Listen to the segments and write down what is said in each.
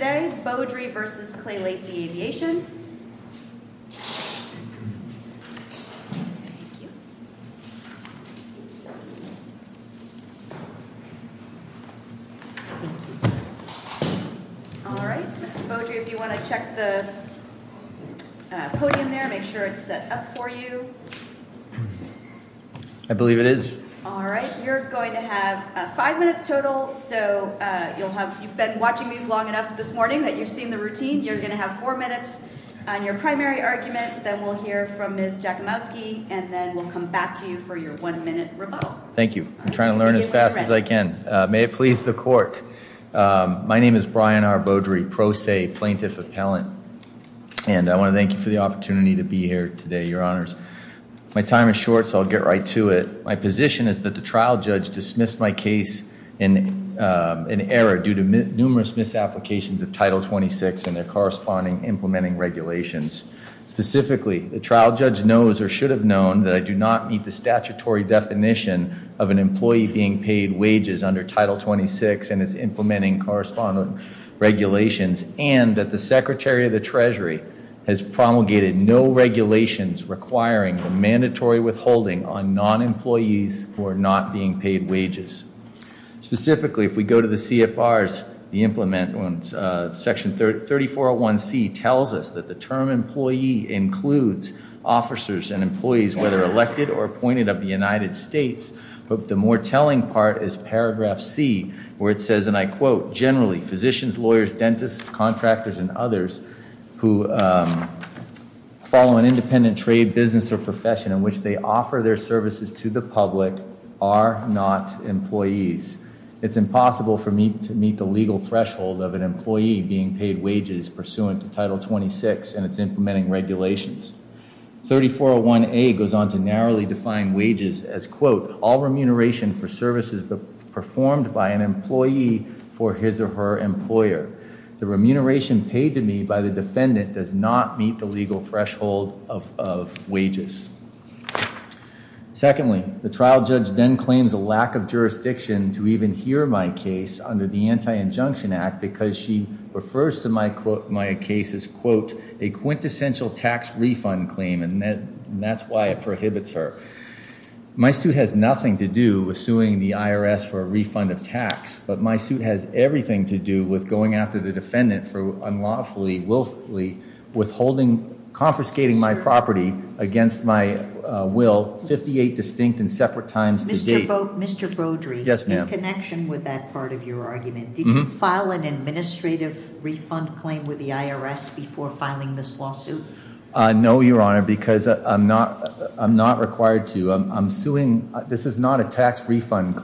Mr. Beaudry, if you want to check the podium there, make sure it's set up for you. I believe it is. All right. You're going to have five minutes total. So you'll have, you've been watching these long enough this morning that you've seen the routine. You're going to have four minutes on your primary argument, then we'll hear from Ms. Jakimowski, and then we'll come back to you for your one-minute rebuttal. Thank you. I'm trying to learn as fast as I can. May it please the court. My name is Brian R. Beaudry, pro se plaintiff appellant, and I want to thank you for the opportunity to be here today, your honors. My time is short, so I'll get right to it. My position is that the trial judge dismissed my case in error due to numerous misapplications of Title 26 and their corresponding implementing regulations. Specifically, the trial judge knows or should have known that I do not meet the statutory definition of an employee being paid wages under Title 26 and its implementing correspondent regulations, and that the Secretary of the Treasury has promulgated no regulations requiring a mandatory withholding on non-employees who are not being paid wages. Specifically, if we go to the CFRs, the implement, Section 3401C tells us that the term employee includes officers and employees whether elected or appointed of the United States, but the more telling part is paragraph C, where it says, and I quote, generally, physicians, lawyers, dentists, contractors, and others who follow an independent trade business or profession in which they offer their services to the public are not employees. It's impossible for me to meet the legal threshold of an employee being paid wages pursuant to Title 26 and its implementing regulations. 3401A goes on to narrowly define wages as, quote, all remuneration for services performed by an employee for his or her employer. The remuneration paid to me by the defendant does not meet the legal threshold of wages. Secondly, the trial judge then claims a lack of jurisdiction to even hear my case under the Anti-Injunction Act because she refers to my case as, quote, a quintessential tax refund claim, and that's why it prohibits her. My suit has nothing to do with suing the IRS for a refund of tax, but my suit has everything to do with going after the defendant for unlawfully, willfully, withholding, confiscating my property against my will 58 distinct and separate times to date. Mr. Brodery, in connection with that part of your argument, did you file an administrative refund claim with the IRS before filing this lawsuit? No, Your Honor, because I'm not required to. I'm suing, this is not a tax refund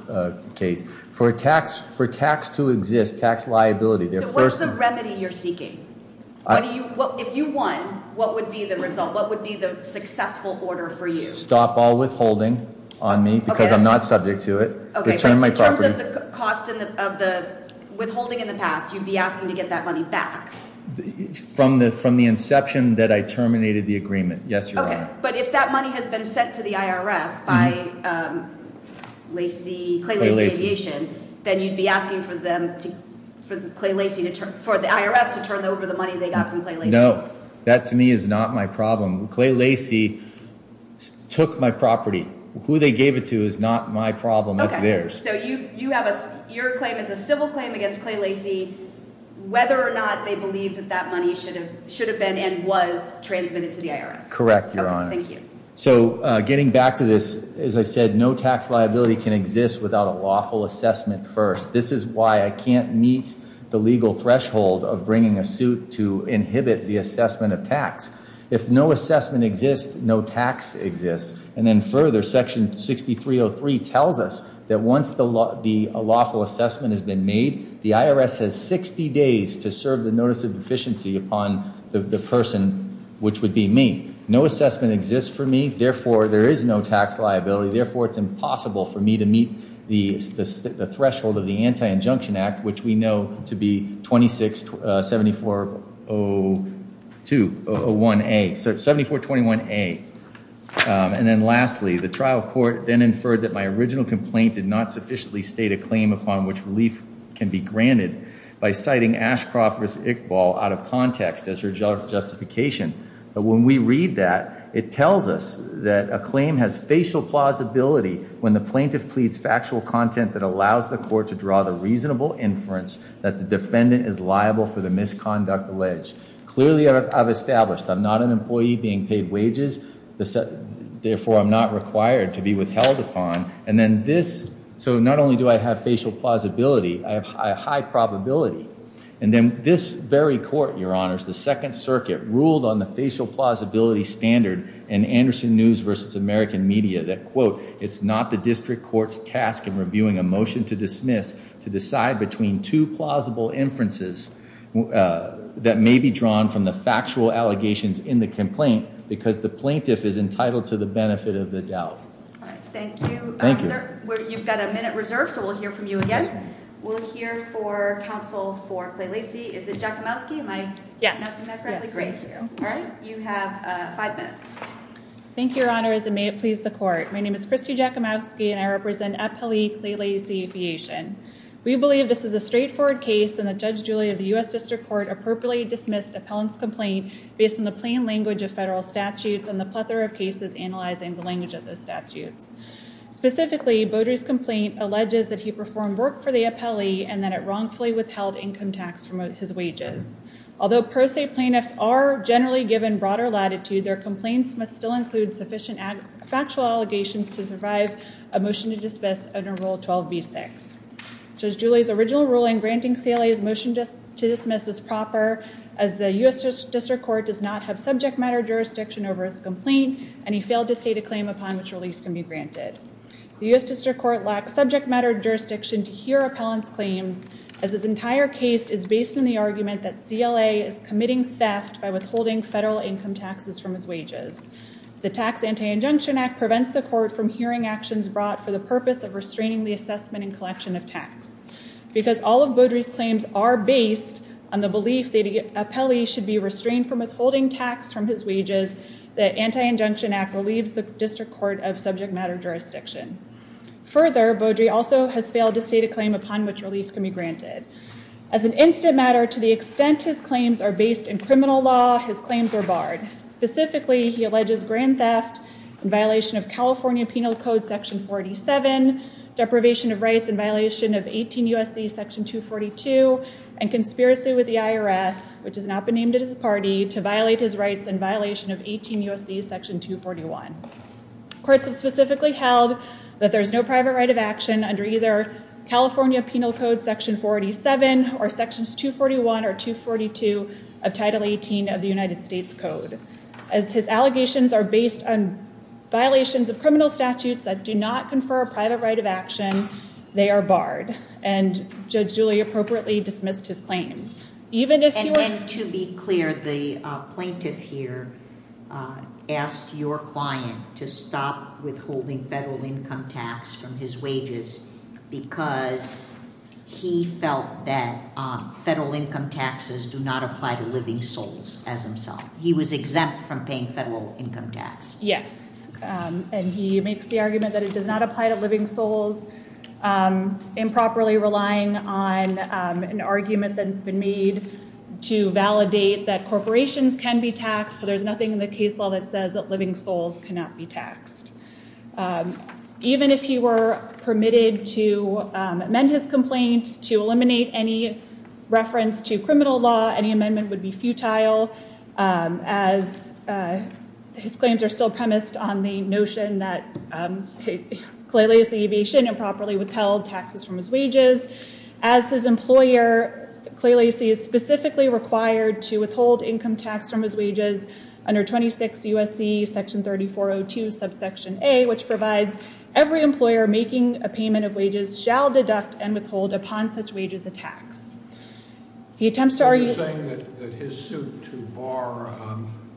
case. For tax to exist, tax liability, the first- So what's the remedy you're seeking? If you won, what would be the result, what would be the successful order for you? Stop all withholding on me because I'm not subject to it, return my property. Okay, but in terms of the cost of the withholding in the past, you'd be asking to get that money back? From the inception that I terminated the agreement, yes, Your Honor. But if that money has been sent to the IRS by Clay Lacy Aviation, then you'd be asking for the IRS to turn over the money they got from Clay Lacy? No, that to me is not my problem. Clay Lacy took my property. Who they gave it to is not my problem, it's theirs. So your claim is a civil claim against Clay Lacy, whether or not they believed that that money should have been and was transmitted to the IRS? Correct, Your Honor. So getting back to this, as I said, no tax liability can exist without a lawful assessment first. This is why I can't meet the legal threshold of bringing a suit to inhibit the assessment of tax. If no assessment exists, no tax exists. And then further, Section 6303 tells us that once the lawful assessment has been made, the IRS has 60 days to serve the notice of deficiency upon the person, which would be me. No assessment exists for me. Therefore, there is no tax liability. Therefore, it's impossible for me to meet the threshold of the Anti-Injunction Act, which we know to be 7421A. And then lastly, the trial court then inferred that my original complaint did not sufficiently state a claim upon which relief can be granted by citing Ashcroft v. Iqbal out of context as her justification. But when we read that, it tells us that a claim has facial plausibility when the plaintiff pleads factual content that allows the court to draw the reasonable inference that the defendant is liable for the misconduct alleged. Clearly, I've established I'm not an employee being paid wages. Therefore, I'm not required to be withheld upon. And then this, so not only do I have facial plausibility, I have high probability. And then this very court, Your Honors, the Second Circuit, ruled on the facial plausibility standard in Anderson News v. American Media that, quote, it's not the district court's task in reviewing a motion to dismiss to decide between two plausible inferences that may be drawn from the factual allegations in the complaint because the plaintiff is entitled to the benefit of the doubt. All right. Thank you. Thank you. You've got a minute reserved, so we'll hear from you again. We'll hear for counsel for Kley-Lacy. Is it Jakimowski? Am I pronouncing that correctly? Great. All right. You have five minutes. Thank you, Your Honors, and may it please the court. My name is Christy Jakimowski, and I represent Eppele Kley-Lacy Aviation. We believe this is a straightforward case in the Judge Julia of the U.S. District Court appropriately dismissed appellant's complaint based on the plain language of federal statutes and the plethora of cases analyzing the language of those statutes. Specifically, Beaudry's complaint alleges that he performed work for the appellee and that it wrongfully withheld income tax from his wages. Although pro se plaintiffs are generally given broader latitude, their complaints must still include sufficient factual allegations to survive a motion to dismiss under Rule 12b-6. Judge Julia's original ruling granting CLA's motion to dismiss was proper as the U.S. District Court does not have subject matter jurisdiction over his complaint, and he failed to state a claim upon which relief can be granted. The U.S. District Court lacks subject matter jurisdiction to hear appellant's claims as his entire case is based on the argument that CLA is committing theft by withholding federal income taxes from his wages. The Tax Anti-Injunction Act prevents the court from hearing actions brought for the purpose of restraining the assessment and collection of tax. Because all of Beaudry's claims are based on the belief that the appellee should be of subject matter jurisdiction. Further, Beaudry also has failed to state a claim upon which relief can be granted. As an instant matter, to the extent his claims are based in criminal law, his claims are barred. Specifically, he alleges grand theft in violation of California Penal Code Section 47, deprivation of rights in violation of 18 U.S.C. Section 242, and conspiracy with the IRS, which has not been named as a party, to violate his rights in violation of 18 U.S.C. Section 241. Courts have specifically held that there is no private right of action under either California Penal Code Section 47 or Sections 241 or 242 of Title 18 of the United States Code. As his allegations are based on violations of criminal statutes that do not confer a private right of action, they are barred. And Judge Julia appropriately dismissed his claims. And to be clear, the plaintiff here asked your client to stop withholding federal income tax from his wages because he felt that federal income taxes do not apply to living souls as himself. He was exempt from paying federal income tax. Yes. And he makes the argument that it does not apply to living souls, improperly relying on an argument that's been made to validate that corporations can be taxed, but there's nothing in the case law that says that living souls cannot be taxed. Even if he were permitted to amend his complaint to eliminate any reference to criminal law, any amendment would be futile as his claims are still premised on the notion that he clearly improperly withheld taxes from his wages. As his employer clearly sees specifically required to withhold income tax from his wages under 26 USC Section 3402 subsection A, which provides every employer making a payment of wages shall deduct and withhold upon such wages a tax. He attempts to argue- His suit to bar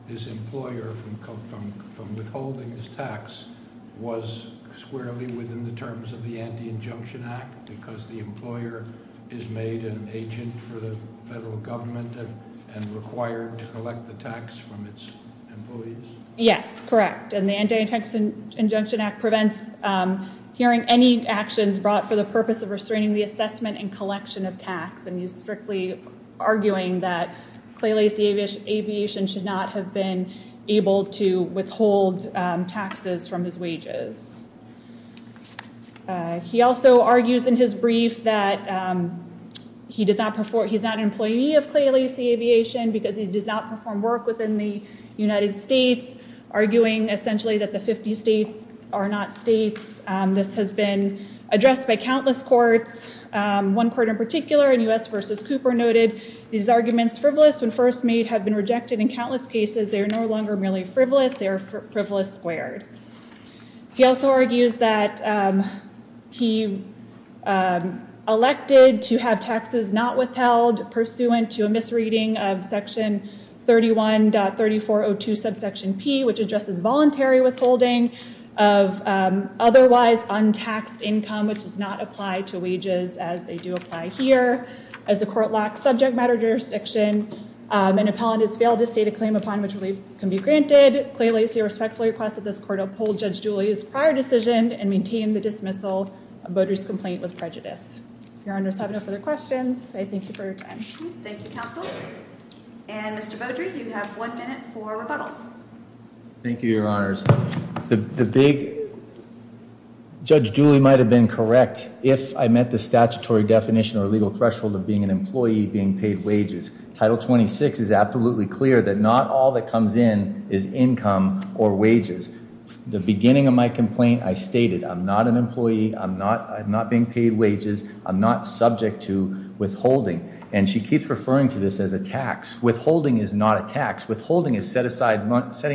his employer from withholding his tax was squarely within the terms of the Anti-Injunction Act because the employer is made an agent for the federal government and required to collect the tax from its employees? Yes, correct. And the Anti-Injunction Act prevents hearing any actions brought for the purpose of restraining the assessment and collection of tax, and he's strictly arguing that Clay Lacy Aviation should not have been able to withhold taxes from his wages. He also argues in his brief that he's not an employee of Clay Lacy Aviation because he does not perform work within the United States, arguing essentially that the 50 states are not states. This has been addressed by countless courts. One court in particular in U.S. versus Cooper noted these arguments frivolous when first made have been rejected in countless cases. They are no longer merely frivolous. They are frivolous squared. He also argues that he elected to have taxes not withheld pursuant to a misreading of Section 31.3402 subsection P, which addresses voluntary withholding of otherwise untaxed income, which does not apply to wages as they do apply here. As the court lacks subject matter jurisdiction, an appellant has failed to state a claim upon which relief can be granted. Clay Lacy respectfully requests that this court uphold Judge Julia's prior decision and maintain the dismissal of voter's complaint with prejudice. If your honors have no further questions, I thank you for your time. Thank you, counsel. And Mr. Beaudry, you have one minute for rebuttal. Thank you, your honors. The big, Judge Julie might have been correct if I met the statutory definition or legal threshold of being an employee being paid wages. Title 26 is absolutely clear that not all that comes in is income or wages. The beginning of my complaint, I stated I'm not an employee. I'm not being paid wages. I'm not subject to withholding. And she keeps referring to this as a tax. Withholding is not a tax. Withholding is setting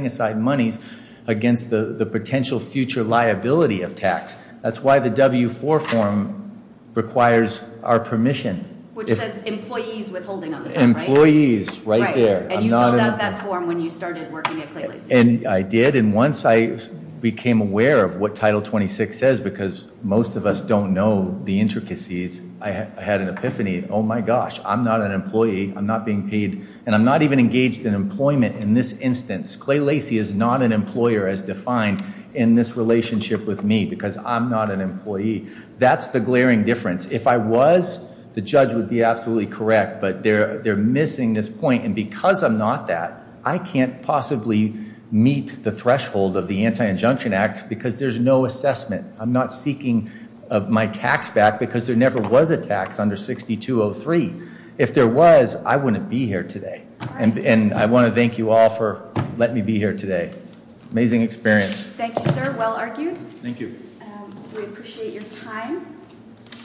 aside monies against the potential future liability of tax. That's why the W-4 form requires our permission. Which says employees withholding on the term, right? Employees, right there. And you filled out that form when you started working at Clay Lacy. And I did. And once I became aware of what Title 26 says, because most of us don't know the intricacies, I had an epiphany. Oh, my gosh. I'm not an employee. I'm not being paid. And I'm not even engaged in employment in this instance. Clay Lacy is not an employer as defined in this relationship with me. Because I'm not an employee. That's the glaring difference. If I was, the judge would be absolutely correct. But they're missing this point. And because I'm not that, I can't possibly meet the threshold of the Anti-Injunction Act. Because there's no assessment. I'm not seeking my tax back. Because there never was a tax under 6203. If there was, I wouldn't be here today. And I want to thank you all for letting me be here today. Amazing experience. Thank you, sir. Well argued. Thank you. We appreciate your time.